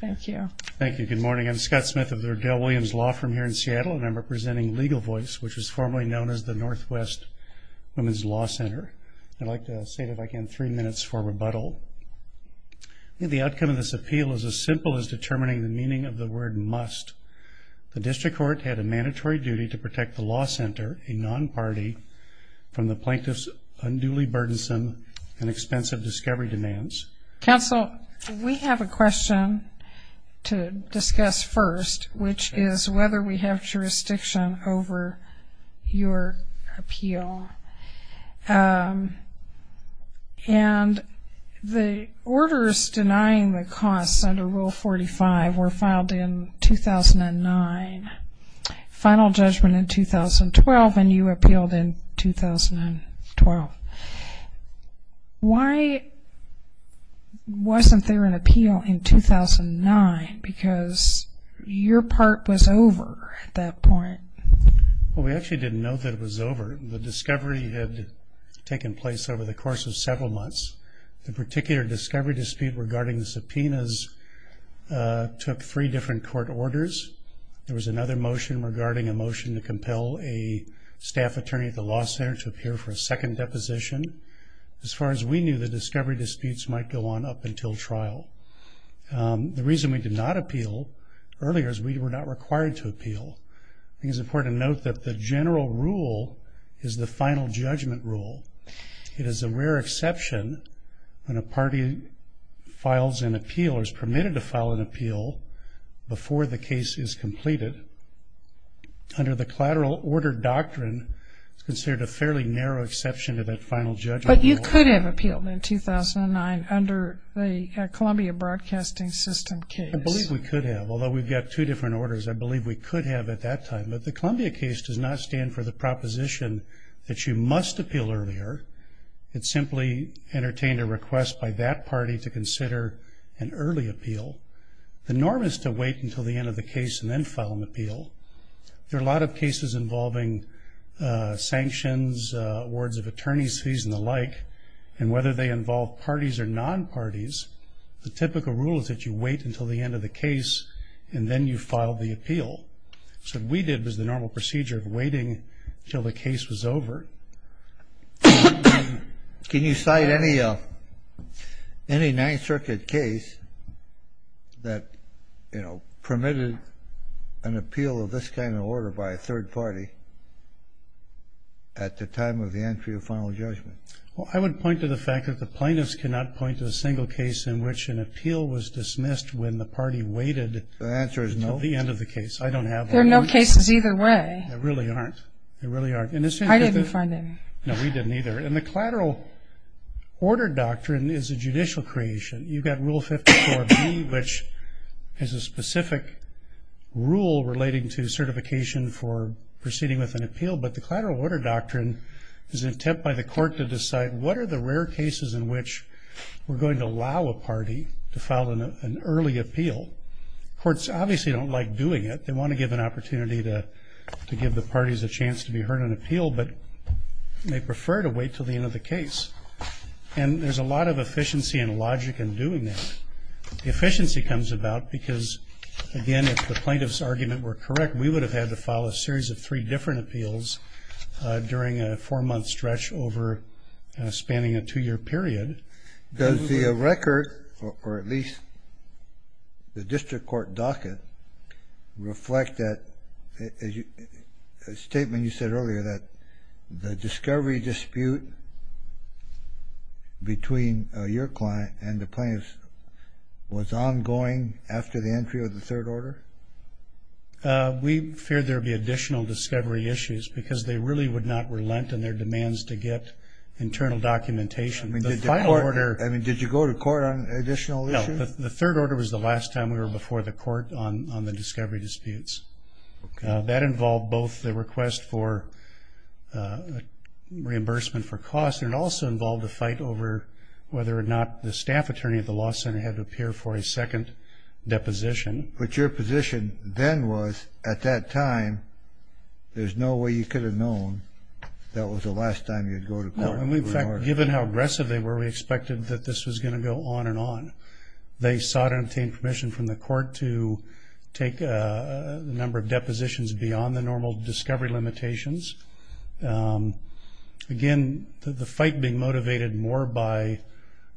Thank you. Thank you. Good morning. I'm Scott Smith of the Odell-Williams Law Firm here in Seattle, and I'm representing Legal Voice, which was formerly known as the Northwest Women's Law Center. I'd like to say that I can have three minutes for rebuttal. The outcome of this appeal is as simple as determining the meaning of the word must. The district court had a mandatory duty to protect the law center, a non-party, from the plaintiff's unduly burdensome and expensive discovery demands. Counsel, we have a question to discuss first, which is whether we have jurisdiction over your appeal. And the orders denying the costs under Rule 45 were filed in 2009, final judgment in 2012, and you appealed in 2012. Why wasn't there an appeal in 2009, because your part was over at that point? Well, we actually didn't know that it was over. The discovery had taken place over the course of several months. The particular discovery dispute regarding the subpoenas took three different court orders. There was another motion regarding a motion to compel a staff attorney at the law center to appear for a second deposition. As far as we knew, the discovery disputes might go on up until trial. The reason we did not appeal earlier is we were not required to appeal. I think it's important to note that the general rule is the final judgment rule. It is a rare exception when a party files an appeal or is permitted to file an appeal before the case is completed. Under the collateral order doctrine, it's considered a fairly narrow exception to that final judgment rule. But you could have appealed in 2009 under the Columbia Broadcasting System case. I believe we could have, although we've got two different orders. I believe we could have at that time. But the Columbia case does not stand for the proposition that you must appeal earlier. It simply entertained a request by that party to consider an early appeal. The norm is to wait until the end of the case and then file an appeal. There are a lot of cases involving sanctions, awards of attorney's fees and the like. And whether they involve parties or non-parties, the typical rule is that you wait until the end of the case and then you file the appeal. So what we did was the normal procedure of waiting until the case was over. Can you cite any Ninth Circuit case that, you know, permitted an appeal of this kind of order by a third party at the time of the entry of final judgment? Well, I would point to the fact that the plaintiffs cannot point to a single case in which an appeal was dismissed when the party waited until the end of the case. I don't have one. There are no cases either way. There really aren't. There really aren't. I didn't find any. No, we didn't either. And the collateral order doctrine is a judicial creation. You've got Rule 54B, which has a specific rule relating to certification for proceeding with an appeal, but the collateral order doctrine is an attempt by the court to decide what are the rare cases in which we're going to allow a party to file an early appeal. Courts obviously don't like doing it. They want to give an opportunity to give the parties a chance to be heard on appeal, but they prefer to wait until the end of the case. And there's a lot of efficiency and logic in doing that. The efficiency comes about because, again, if the plaintiff's argument were correct, we would have had to file a series of three different appeals during a four-month stretch over spanning a two-year period. Does the record, or at least the district court docket, reflect that statement you said earlier that the discovery dispute between your client and the plaintiff's was ongoing after the entry of the third order? We fear there will be additional discovery issues because they really would not relent in their demands to get internal documentation. I mean, did you go to court on additional issues? No. The third order was the last time we were before the court on the discovery disputes. That involved both the request for reimbursement for costs, and it also involved a fight over whether or not the staff attorney at the law center had to appear for a second deposition. But your position then was, at that time, there's no way you could have known that was the last time you'd go to court. No. In fact, given how aggressive they were, we expected that this was going to go on and on. They sought and obtained permission from the court to take a number of depositions beyond the normal discovery limitations. Again, the fight being motivated more by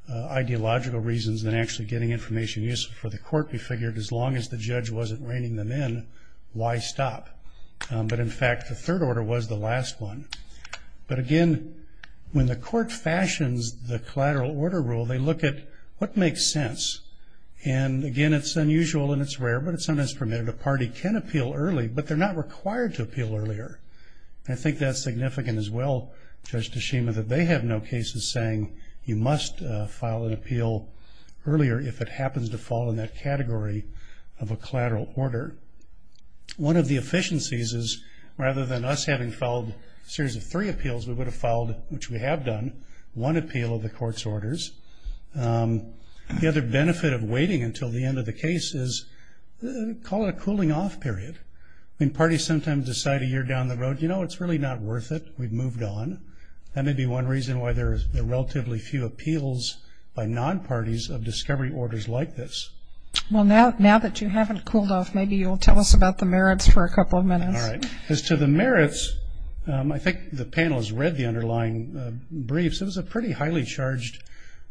ideological reasons than actually getting information useful for the court, we figured, as long as the judge wasn't reining them in, why stop? But in fact, the third order was the last one. But again, when the court fashions the collateral order rule, they look at what makes sense. And again, it's unusual and it's rare, but it's sometimes permitted. A party can appeal early, but they're not required to appeal earlier. I think that's significant as well, Judge Tashima, that they have no cases saying you must file an appeal earlier if it happens to fall in that category of a collateral order. One of the efficiencies is rather than us having filed a series of three appeals, we would have filed, which we have done, one appeal of the court's orders. The other benefit of waiting until the end of the case is call it a cooling off period. I mean, parties sometimes decide a year down the road, you know, it's really not worth it, we've moved on. That may be one reason why there's relatively few appeals by non-parties of discovery orders like this. Well, now that you haven't cooled off, maybe you'll tell us about the merits for a couple of minutes. All right. As to the merits, I think the panel has read the underlying briefs. It was a pretty highly charged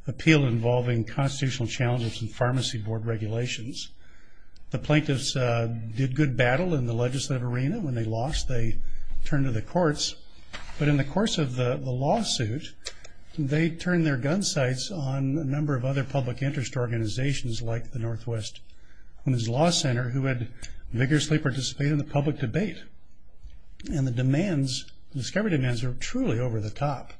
appeal involving constitutional challenges and pharmacy board regulations. The plaintiffs did good battle in the legislative arena. When they lost, they turned to the courts. But in the course of the lawsuit, they turned their gun sights on a number of other public interest organizations like the Northwest Women's Law Center who had vigorously participated in the public debate. And the demands, discovery demands are truly over the top.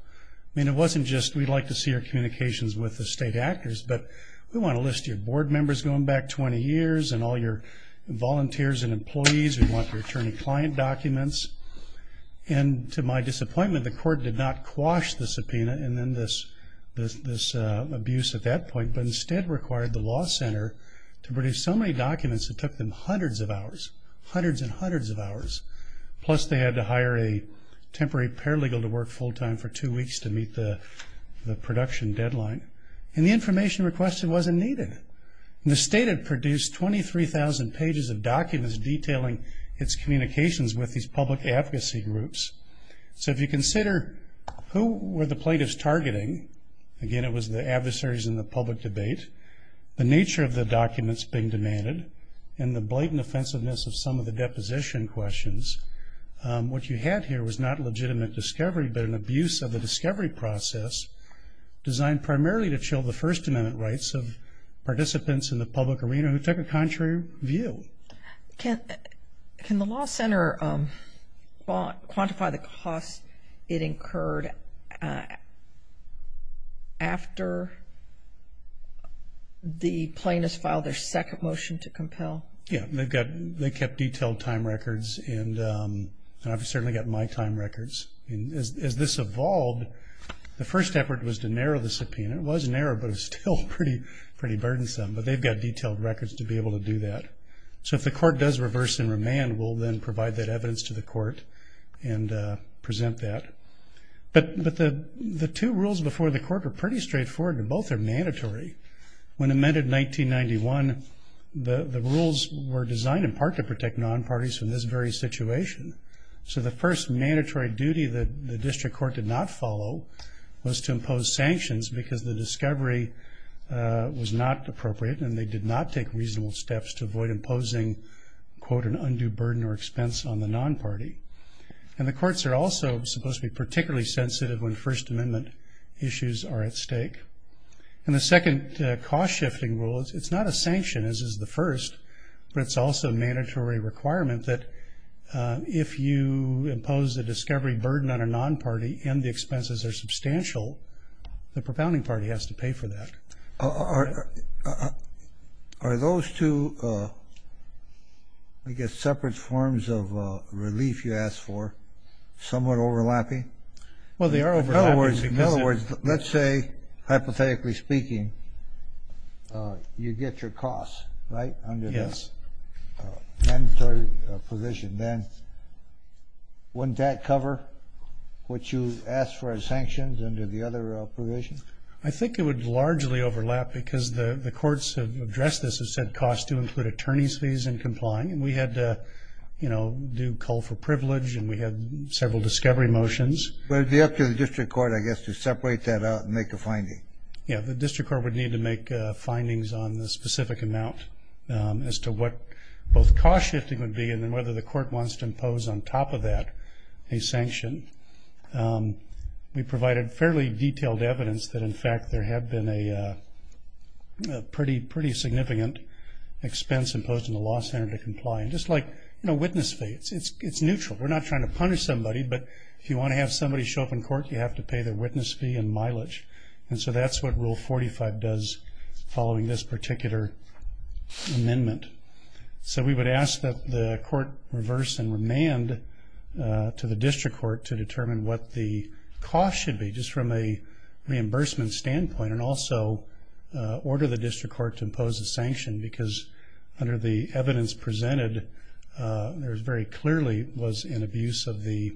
I mean, it wasn't just we'd like to see your communications with the state actors, but we want to list your board members going back 20 years and all your volunteers and employees, we want your attorney client documents. And to my disappointment, the court did not quash the subpoena and then this abuse at that point, but instead required the law center to produce so many documents that took them hundreds of hours, hundreds and hundreds of hours. Plus, they had to hire a temporary paralegal to work full time for two weeks to meet the production deadline. And the information requested wasn't needed. The state had produced 23,000 pages of documents detailing its communications with these public advocacy groups. So if you consider who were the plaintiffs targeting, again, it was the adversaries in the public debate, the nature of the documents being demanded, and the blatant offensiveness of some of the deposition questions, what you had here was not legitimate discovery, but an abuse of the discovery process designed primarily to chill the First Amendment rights of participants in the public arena who took a contrary view. Can the law center quantify the cost it incurred after the plaintiffs filed their second motion to compel? Yeah, they kept detailed time records, and I've certainly got my time records. As this evolved, the first effort was to narrow the subpoena. It was narrow, but it was still pretty burdensome. But they've got detailed records to be able to do that. So if the court does reverse and remand, we'll then provide that evidence to the court and present that. But the two rules before the court were pretty straightforward, and both are mandatory. When amended in 1991, the rules were designed in part to protect non-parties from this very situation. So the first mandatory duty that the district court did not follow was to impose sanctions because the discovery was not appropriate, and they did not take reasonable steps to avoid imposing, quote, an undue burden or expense on the non-party. And the courts are also supposed to be particularly sensitive when First Amendment issues are at stake. And the second cost-shifting rule, it's not a sanction, as is the first, but it's also a mandatory requirement that if you impose a discovery burden on a non-party and the expenses are substantial, the propounding party has to pay for that. Are those two, I guess, separate forms of relief you asked for somewhat overlapping? Well, they are overlapping because they're... In other words, let's say, hypothetically speaking, you get your costs, right, under the mandatory position. Then wouldn't that cover what you asked for as sanctions under the other provision? I think it would largely overlap because the courts have addressed this and said costs do include attorney's fees and complying. And we had to, you know, do call for privilege, and we had several discovery motions. But it would be up to the district court, I guess, to separate that out and make a finding. Yeah, the district court would need to make findings on the specific amount as to what both cost-shifting would be and then whether the court wants to impose on top of that a sanction. We provided fairly detailed evidence that, in fact, there had been a pretty significant expense imposed on the law center to comply. And just like, you know, witness fees, it's neutral. We're not trying to punish somebody, but if you want to have somebody show up in court, you have to pay their witness fee and mileage. And so that's what Rule 45 does following this particular amendment. So we would ask that the court reverse and remand to the district court to determine what the cost should be just from a reimbursement standpoint and also order the district court to impose a sanction because under the evidence presented, there very clearly was an abuse of the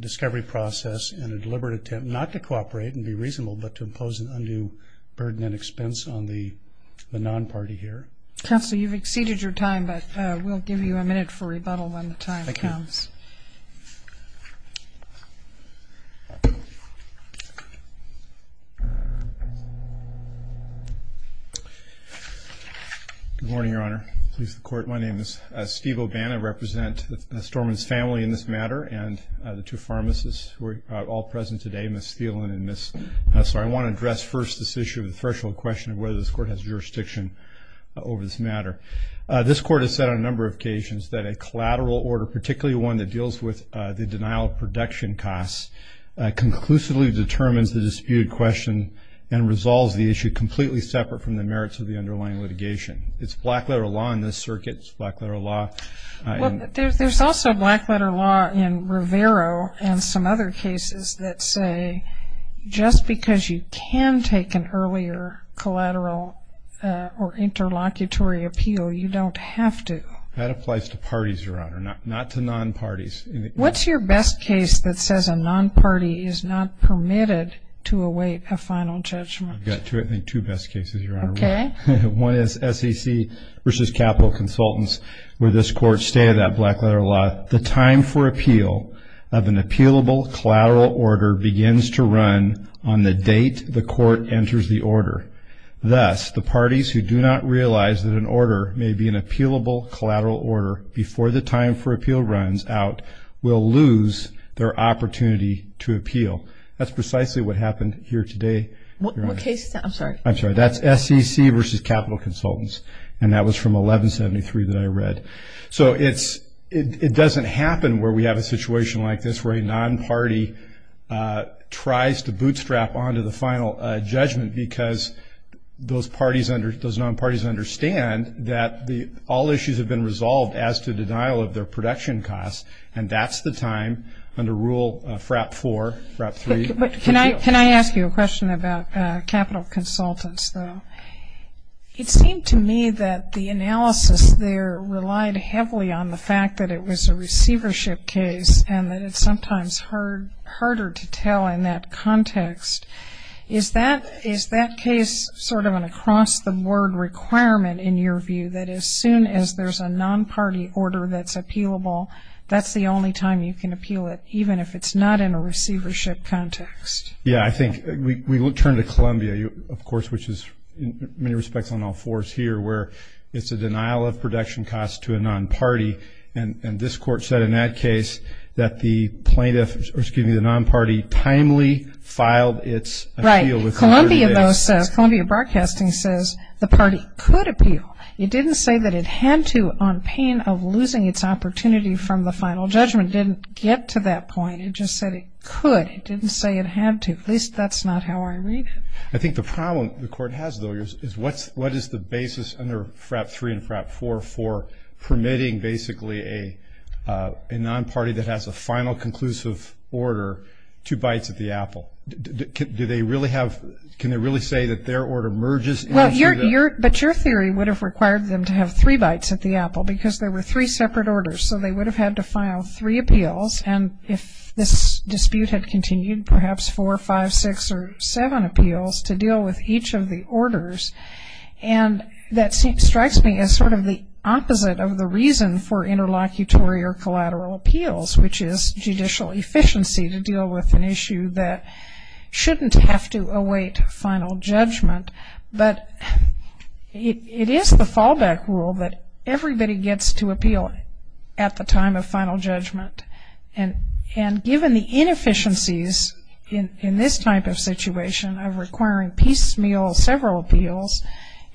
discovery process and a deliberate attempt not to cooperate and be reasonable, but to impose an undue burden and expense on the non-party here. Counsel, you've exceeded your time, but we'll give you a minute for rebuttal when the time comes. Thank you. Good morning, Your Honor. Police, the court. My name is Steve Obana. I represent Storman's family in this matter and the two pharmacists who are all present today, Ms. Thielen and Ms. Hustler. I want to address first this issue of the threshold question of whether this court has jurisdiction over this matter. This court has said on a number of occasions that a collateral order, particularly one that deals with the denial of production costs, conclusively determines the disputed question and resolves the issue completely separate from the merits of the underlying litigation. It's black letter law in this circuit. It's black letter law. Well, there's also black letter law in Rivero and some other cases that say, just because you can take an earlier collateral or interlocutory appeal, you don't have to. That applies to parties, Your Honor, not to non-parties. What's your best case that says a non-party is not permitted to await a final judgment? I've got two best cases, Your Honor. Okay. One is SEC versus Capital Consultants, where this court stated that black letter law, the time for appeal of an appealable collateral order begins to run on the date the court enters the order. Thus, the parties who do not realize that an order may be an appealable collateral order before the time for appeal runs out will lose their opportunity to appeal. That's precisely what happened here today. What case is that? I'm sorry. I'm sorry. That's SEC versus Capital Consultants, and that was from 1173 that I read. So, it doesn't happen where we have a situation like this where a non-party tries to bootstrap onto the final judgment because those non-parties understand that all issues have been resolved as to denial of their production costs, and that's the time under Rule FRAP 4, FRAP 3. Can I ask you a question about Capital Consultants, though? It seemed to me that the analysis there relied heavily on the fact that it was a receivership case and that it's sometimes harder to tell in that context. Is that case sort of an across-the-board requirement in your view, that as soon as there's a non-party order that's appealable, that's the only time you can appeal it, even if it's not in a receivership context? Yeah, I think we turn to Columbia, of course, which is in many respects on all fours here where it's a denial of production costs to a non-party, and this court said in that case that the plaintiff, or excuse me, the non-party timely filed its appeal. Right. Columbia, though, says, Columbia Broadcasting says the party could appeal. It didn't say that it had to on pain of losing its opportunity from the final judgment. It didn't get to that point. It just said it could. It didn't say it had to. At least that's not how I read it. I think the problem the court has, though, is what is the basis under FRAP 3 and FRAP 4 for permitting basically a non-party that has a final conclusive order two bites at the apple? Do they really have, can they really say that their order merges? But your theory would have required them to have three bites at the apple because there were three separate orders, so they would have had to file three appeals, and if this dispute had continued, perhaps four, five, six, or seven appeals to deal with each of the orders, and that strikes me as sort of the opposite of the reason for interlocutory or collateral appeals, which is judicial efficiency to deal with an issue that shouldn't have to await final judgment. But it is the fallback rule that everybody gets to appeal at the time of final judgment, and given the inefficiencies in this type of situation of requiring piecemeal, several appeals,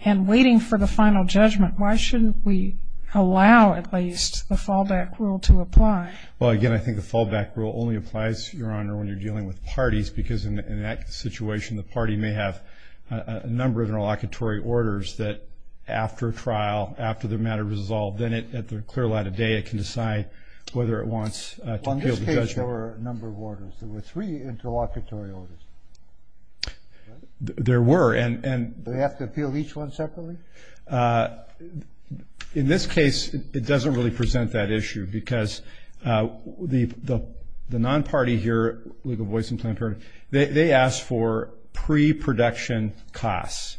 and waiting for the final judgment, why shouldn't we allow at least the fallback rule to apply? Well, again, I think the fallback rule only applies, Your Honor, when you're dealing with parties, because in that situation, the party may have a number of interlocutory orders that after trial, after the matter is resolved, then at the clear light of day, it can decide whether it wants to appeal the judgment. Well, in this case, there were a number of orders. There were three interlocutory orders, right? There were, and. Do they have to appeal each one separately? In this case, it doesn't really present that issue, because the non-party here, Legal Voice and Planned Parenthood, they asked for pre-production costs.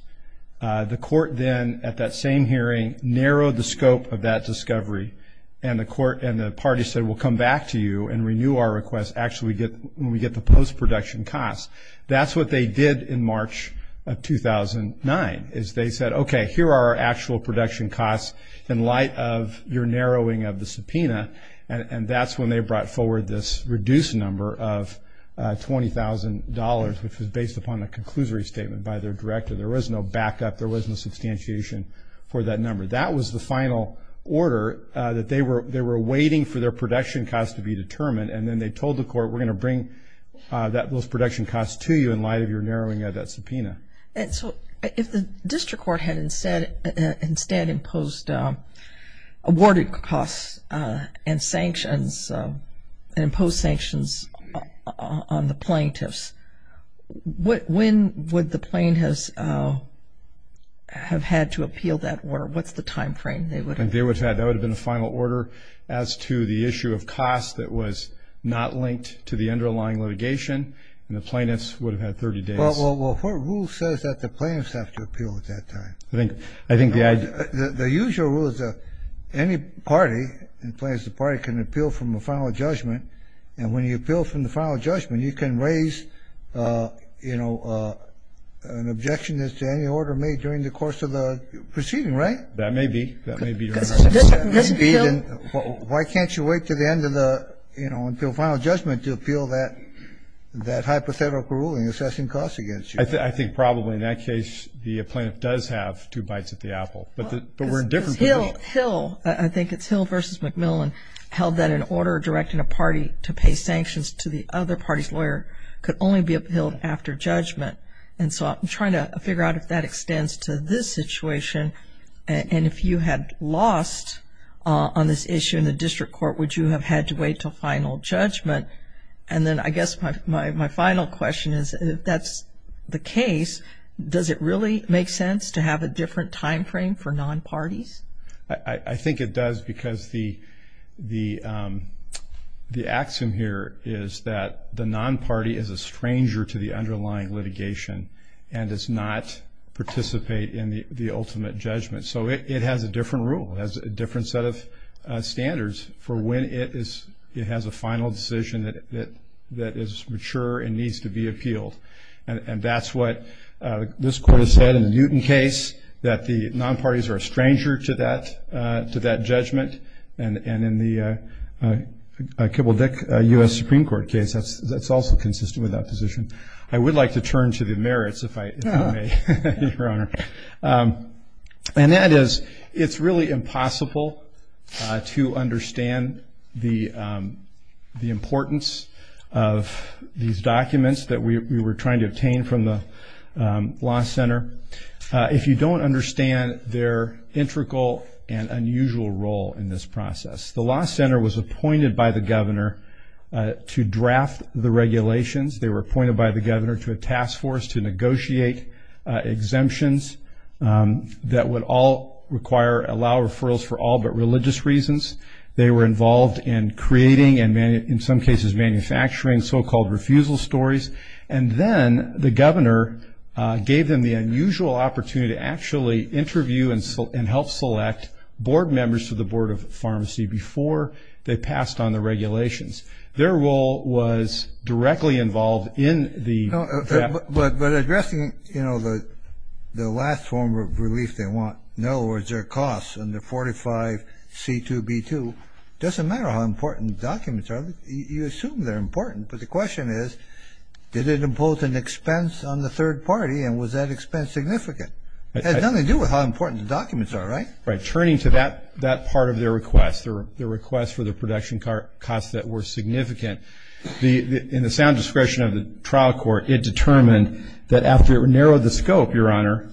The court then, at that same hearing, narrowed the scope of that discovery, and the court and the party said, we'll come back to you and renew our request, actually when we get the post-production costs. That's what they did in March of 2009, is they said, okay, here are our actual production costs in light of your narrowing of the subpoena, and that's when they brought forward this reduced number of $20,000, which was based upon a conclusory statement by their director. There was no backup. There was no substantiation for that number. That was the final order that they were awaiting for their production costs to be determined, and then they told the court, we're going to bring those production costs to you in light of your narrowing of that subpoena. And so, if the district court had instead imposed awarded costs and sanctions, and imposed sanctions on the plaintiffs, when would the plaintiffs have had to appeal that order? What's the time frame they would have had? That would have been a final order as to the issue of costs that was not linked to the underlying litigation, and the plaintiffs would have had 30 days. Well, what rule says that the plaintiffs have to appeal at that time? I think the idea... The usual rule is that any party, the plaintiff's party, can appeal from a final judgment, and when you appeal from the final judgment, you can raise, you know, an objection as to any order made during the course of the proceeding, right? That may be. That may be. Why can't you wait to the end of the, you know, until final judgment to appeal that hypothetical ruling, assessing costs against you? I think probably in that case, the plaintiff does have two bites at the apple, but we're in different positions. Hill, I think it's Hill versus McMillan, held that an order directing a party to pay sanctions to the other party's lawyer could only be appealed after judgment. And so, I'm trying to figure out if that extends to this situation, and if you had lost on this issue in the district court, would you have had to wait until final judgment? And then, I guess my final question is, if that's the case, does it really make sense to have a different timeframe for non-parties? I think it does, because the axiom here is that the non-party is a stranger to the underlying litigation and does not participate in the ultimate judgment. So, it has a different rule. It has a different set of standards for when it has a final decision that is mature and needs to be appealed, and that's what this court has said in the Newton case, that the non-parties are a stranger to that judgment. And in the Kibble-Dick U.S. Supreme Court case, that's also consistent with that position. I would like to turn to the merits, if I may, Your Honor. And that is, it's really impossible to understand the importance of these documents that we were trying to obtain from the law center if you don't understand their integral and unusual role in this process. The law center was appointed by the governor to draft the regulations. They were appointed by the governor to a task force to negotiate exemptions that would allow referrals for all but religious reasons. They were involved in creating and, in some cases, manufacturing so-called refusal stories. And then, the governor gave them the unusual opportunity to actually interview and help select board members to the Board of Pharmacy before they passed on the regulations. Their role was directly involved in the draft. But addressing, you know, the last form of relief they want, in other words, their costs under 45C2B2, it doesn't matter how important the documents are. You assume they're important. But the question is, did it impose an expense on the third party, and was that expense significant? It has nothing to do with how important the documents are, right? Right. Turning to that part of their request, their request for the production costs that were significant, in the sound discretion of the trial court, it determined that after it narrowed the scope, Your Honor,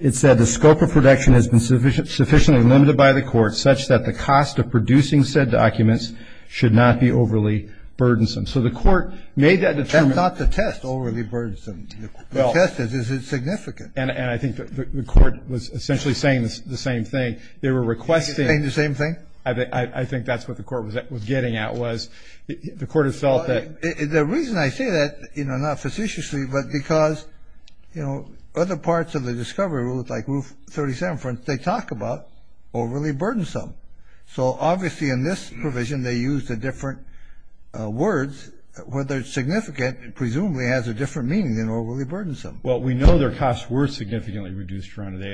it said, the scope of production has been sufficiently limited by the court such that the cost of producing said documents should not be overly burdensome. So, the court made that determination. That's not the test, overly burdensome. The test is, is it significant? And I think the court was essentially saying the same thing. They were requesting. Saying the same thing? I think that's what the court was getting at, was the court has felt that. The reason I say that, you know, not facetiously, but because, you know, other parts of the discovery rule, like 37, they talk about overly burdensome. So, obviously, in this provision, they use the different words, whether it's significant, and presumably has a different meaning than overly burdensome. Well, we know their costs were significantly reduced, Your Honor,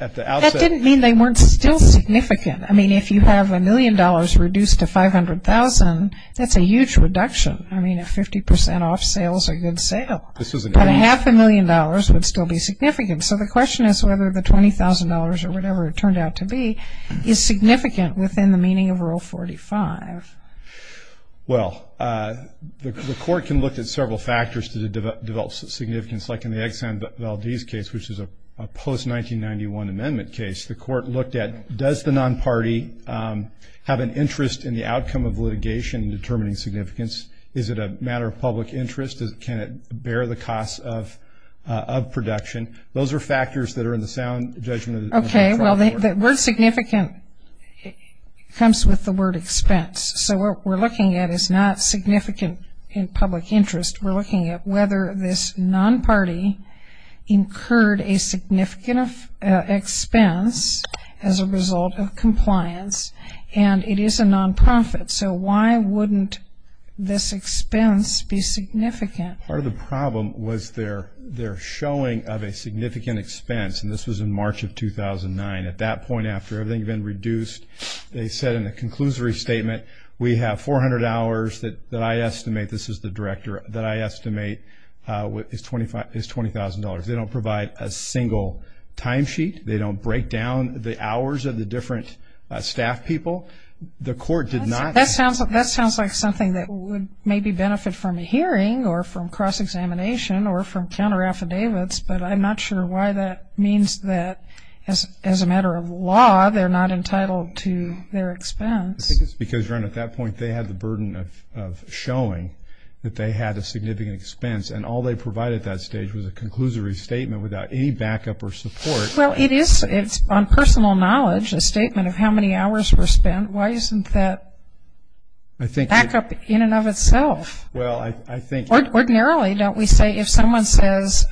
at the outset. That didn't mean they weren't still significant. I mean, if you have a million dollars reduced to 500,000, that's a huge reduction. I mean, a 50% off sale is a good sale. But a half a million dollars would still be significant. So, the question is whether the $20,000 or whatever it turned out to be is significant within the meaning of Rule 45. Well, the court can look at several factors to develop significance. Like in the Exxon Valdez case, which is a post-1991 amendment case. The court looked at, does the non-party have an interest in the outcome of litigation in determining significance? Is it a matter of public interest? Can it bear the cost of production? Those are factors that are in the sound judgment of the Trump Court. Okay. Well, the word significant comes with the word expense. So, what we're looking at is not significant in public interest. We're looking at whether this non-party incurred a significant expense as a result of compliance, and it is a non-profit. So, why wouldn't this expense be significant? Part of the problem was their showing of a significant expense. And this was in March of 2009. At that point, after everything had been reduced, they said in the conclusory statement, we have 400 hours that I estimate, this is the director, that I estimate is $20,000. They don't provide a single timesheet. They don't break down the hours of the different staff people. The court did not. That sounds like something that would maybe benefit from a hearing or from cross-examination or from counter-affidavits, but I'm not sure why that means that, as a matter of law, they're not entitled to their expense. I think it's because, Ron, at that point, they had the burden of showing that they had a significant expense, and all they provided at that stage was a conclusory statement without any backup or support. Well, it is, on personal knowledge, a statement of how many hours were spent. Why isn't that backup in and of itself? Well, I think. Ordinarily, don't we say, if someone says,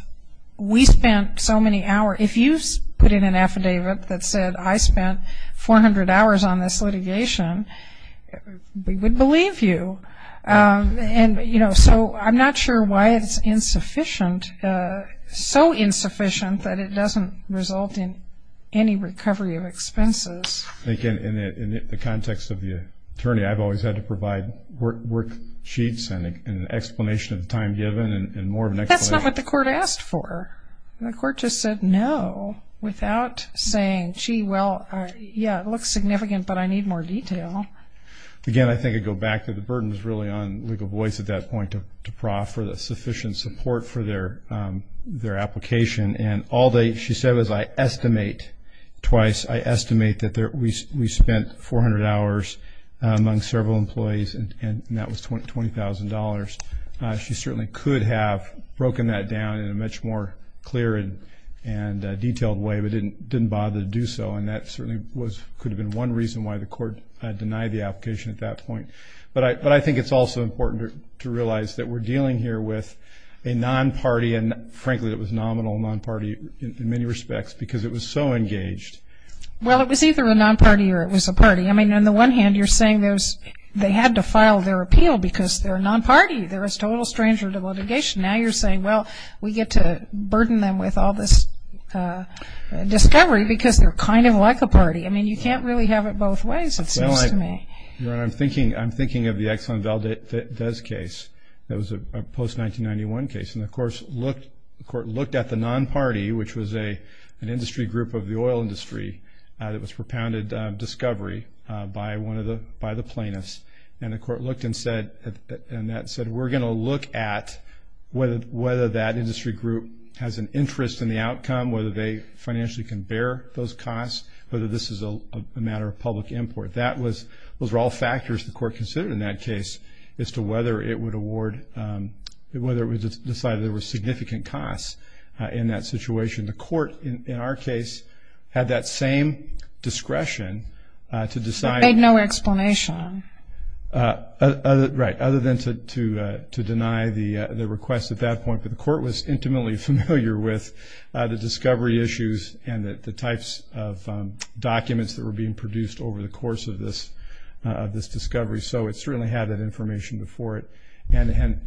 we spent so many hours. If you put in an affidavit that said, I spent 400 hours on this litigation, we would believe you. And, you know, so I'm not sure why it's insufficient, so insufficient that it doesn't result in any recovery of expenses. I think in the context of the attorney, I've always had to provide worksheets and an explanation of the time given and more of an explanation. That's not what the court asked for. The court just said no without saying, gee, well, yeah, it looks significant, but I need more detail. Again, I think I'd go back to the burden was really on Legal Voice at that point to proffer that sufficient support for their application. And all they, she said was, I estimate, twice, I estimate that we spent 400 hours among several employees, and that was $20,000. She certainly could have broken that down in a much more clear and detailed way, but didn't bother to do so. And that certainly was, could have been one reason why the court denied the application at that point. But I think it's also important to realize that we're dealing here with a non-party, and frankly, it was nominal non-party in many respects because it was so engaged. Well, it was either a non-party or it was a party. I mean, on the one hand, you're saying there's, they had to file their appeal because they're a non-party. They're a total stranger to litigation. Now you're saying, well, we get to burden them with all this discovery because they're kind of like a party. I mean, you can't really have it both ways, it seems to me. Well, I'm thinking of the Exxon Valdez case that was a post-1991 case. And of course, the court looked at the non-party, which was an industry group of the oil industry that was propounded discovery by one of the, by the plaintiffs. And the court looked and said, and that said, we're going to look at whether that industry group has an interest in the outcome, whether they financially can bear those costs, whether this is a matter of public import. That was, those were all factors the court considered in that case as to whether it would award, whether it would decide there were significant costs in that situation. The court, in our case, had that same discretion to decide. Made no explanation. Right. Other than to deny the request at that point. But the court was intimately familiar with the discovery issues and the types of documents that were being produced over the course of this discovery. So it certainly had that information before it. And had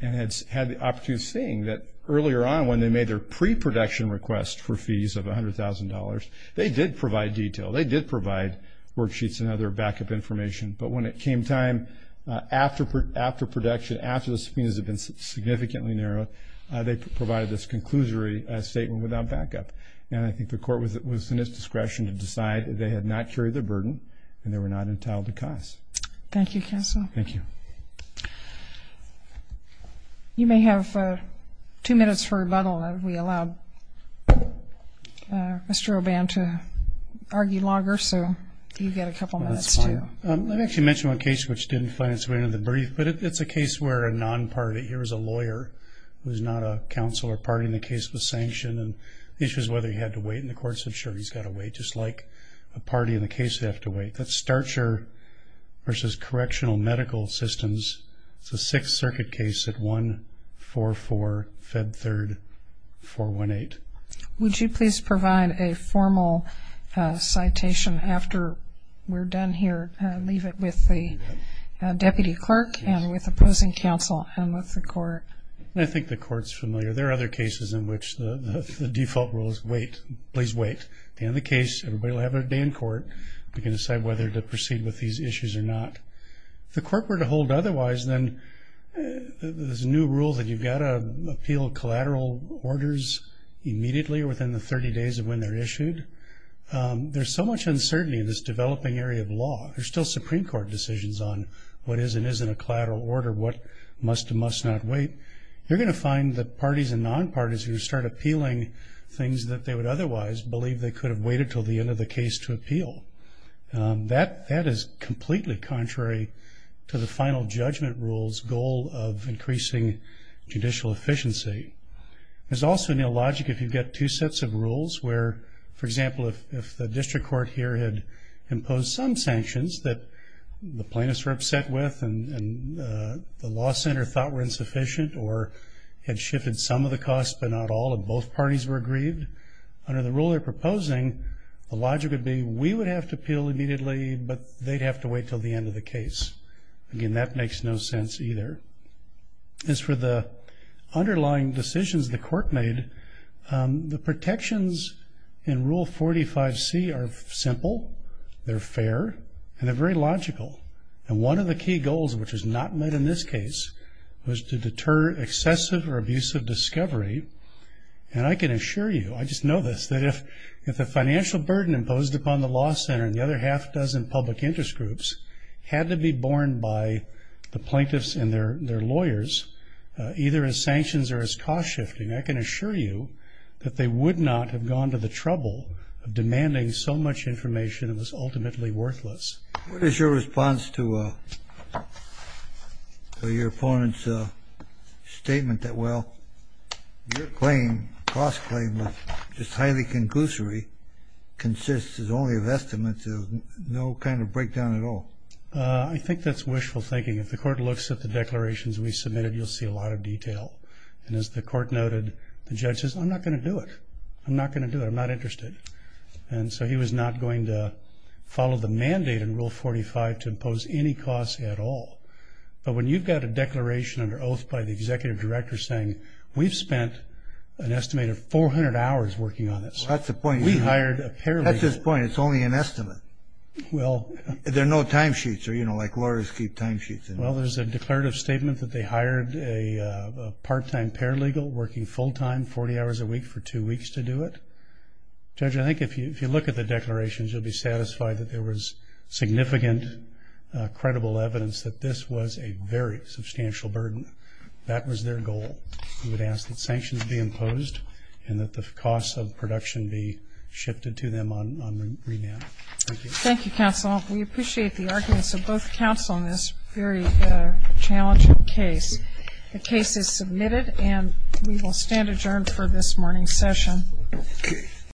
the opportunity of seeing that earlier on when they made their pre-production request for fees of $100,000, they did provide detail. They did provide worksheets and other backup information. But when it came time after production, after the subpoenas had been significantly narrowed, they provided this conclusory statement without backup. And I think the court was in its discretion to decide they had not carried the burden and they were not entitled to cost. Thank you, counsel. Thank you. You may have two minutes for rebuttal. We allow Mr. O'Ban to argue longer. So you get a couple minutes, too. I'd like to mention one case which didn't find its way into the brief. But it's a case where a non-party, here is a lawyer who is not a counsel or party in the case with sanction. And the issue is whether he had to wait. And the court said, sure, he's got to wait. Just like a party in the case, they have to wait. That's Starcher v. Correctional Medical Systems. It's a Sixth Circuit case at 144, Fed 3rd, 418. Would you please provide a formal citation after we're done here and leave it with the deputy clerk and with opposing counsel and with the court? I think the court's familiar. There are other cases in which the default rule is wait. Please wait. At the end of the case, everybody will have a day in court. We can decide whether to proceed with these issues or not. If the court were to hold otherwise, then there's a new rule that you've got to appeal collateral orders immediately or within the 30 days of when they're issued. There's so much uncertainty in this developing area of law. There's still Supreme Court decisions on what is and isn't a collateral order, what must and must not wait. You're going to find that parties and non-parties who start appealing things that they would otherwise believe they could have waited until the end of the case to appeal. That is completely contrary to the final judgment rule's goal of increasing judicial efficiency. There's also no logic if you've got two sets of rules where, for example, if the district court here had imposed some sanctions that the plaintiffs were upset with and the law center thought were insufficient or had shifted some of the costs but not all and both parties were aggrieved, under the rule they're proposing, the logic would be we would have to appeal immediately, but they'd have to wait until the end of the case. Again, that makes no sense either. As for the underlying decisions the court made, the protections in Rule 45C are simple, they're fair, and they're very logical. And one of the key goals, which is not met in this case, was to deter excessive or abusive discovery, and I can assure you, I just know this, that if the financial burden imposed upon the law center and the other half dozen public interest groups had to be borne by the plaintiffs and their lawyers, either as sanctions or as cost shifting, I can assure you that they would not have gone to the trouble of demanding so much information that was ultimately worthless. What is your response to your opponent's statement that, well, your claim, cost claim was just highly conclusory, consists only of estimates, no kind of breakdown at all? I think that's wishful thinking. If the court looks at the declarations we submitted, you'll see a lot of detail. And as the court noted, the judge says, I'm not going to do it. I'm not going to do it. I'm not interested. And so he was not going to follow the mandate in Rule 45 to impose any costs at all. But when you've got a declaration under oath by the executive director saying, we've spent an estimated 400 hours working on this. That's the point. We hired a paralegal. That's his point. It's only an estimate. Well. There are no timesheets or, you know, like lawyers keep timesheets. Well, there's a declarative statement that they hired a part-time paralegal working full-time, 40 hours a week for two weeks to do it. Judge, I think if you look at the declarations, you'll be satisfied that there was significant credible evidence that this was a very substantial burden. That was their goal. We would ask that sanctions be imposed and that the costs of production be shifted to them on remand. Thank you. Thank you, counsel. We appreciate the arguments of both counsel in this very challenging case. The case is submitted and we will stand adjourned for this morning's session.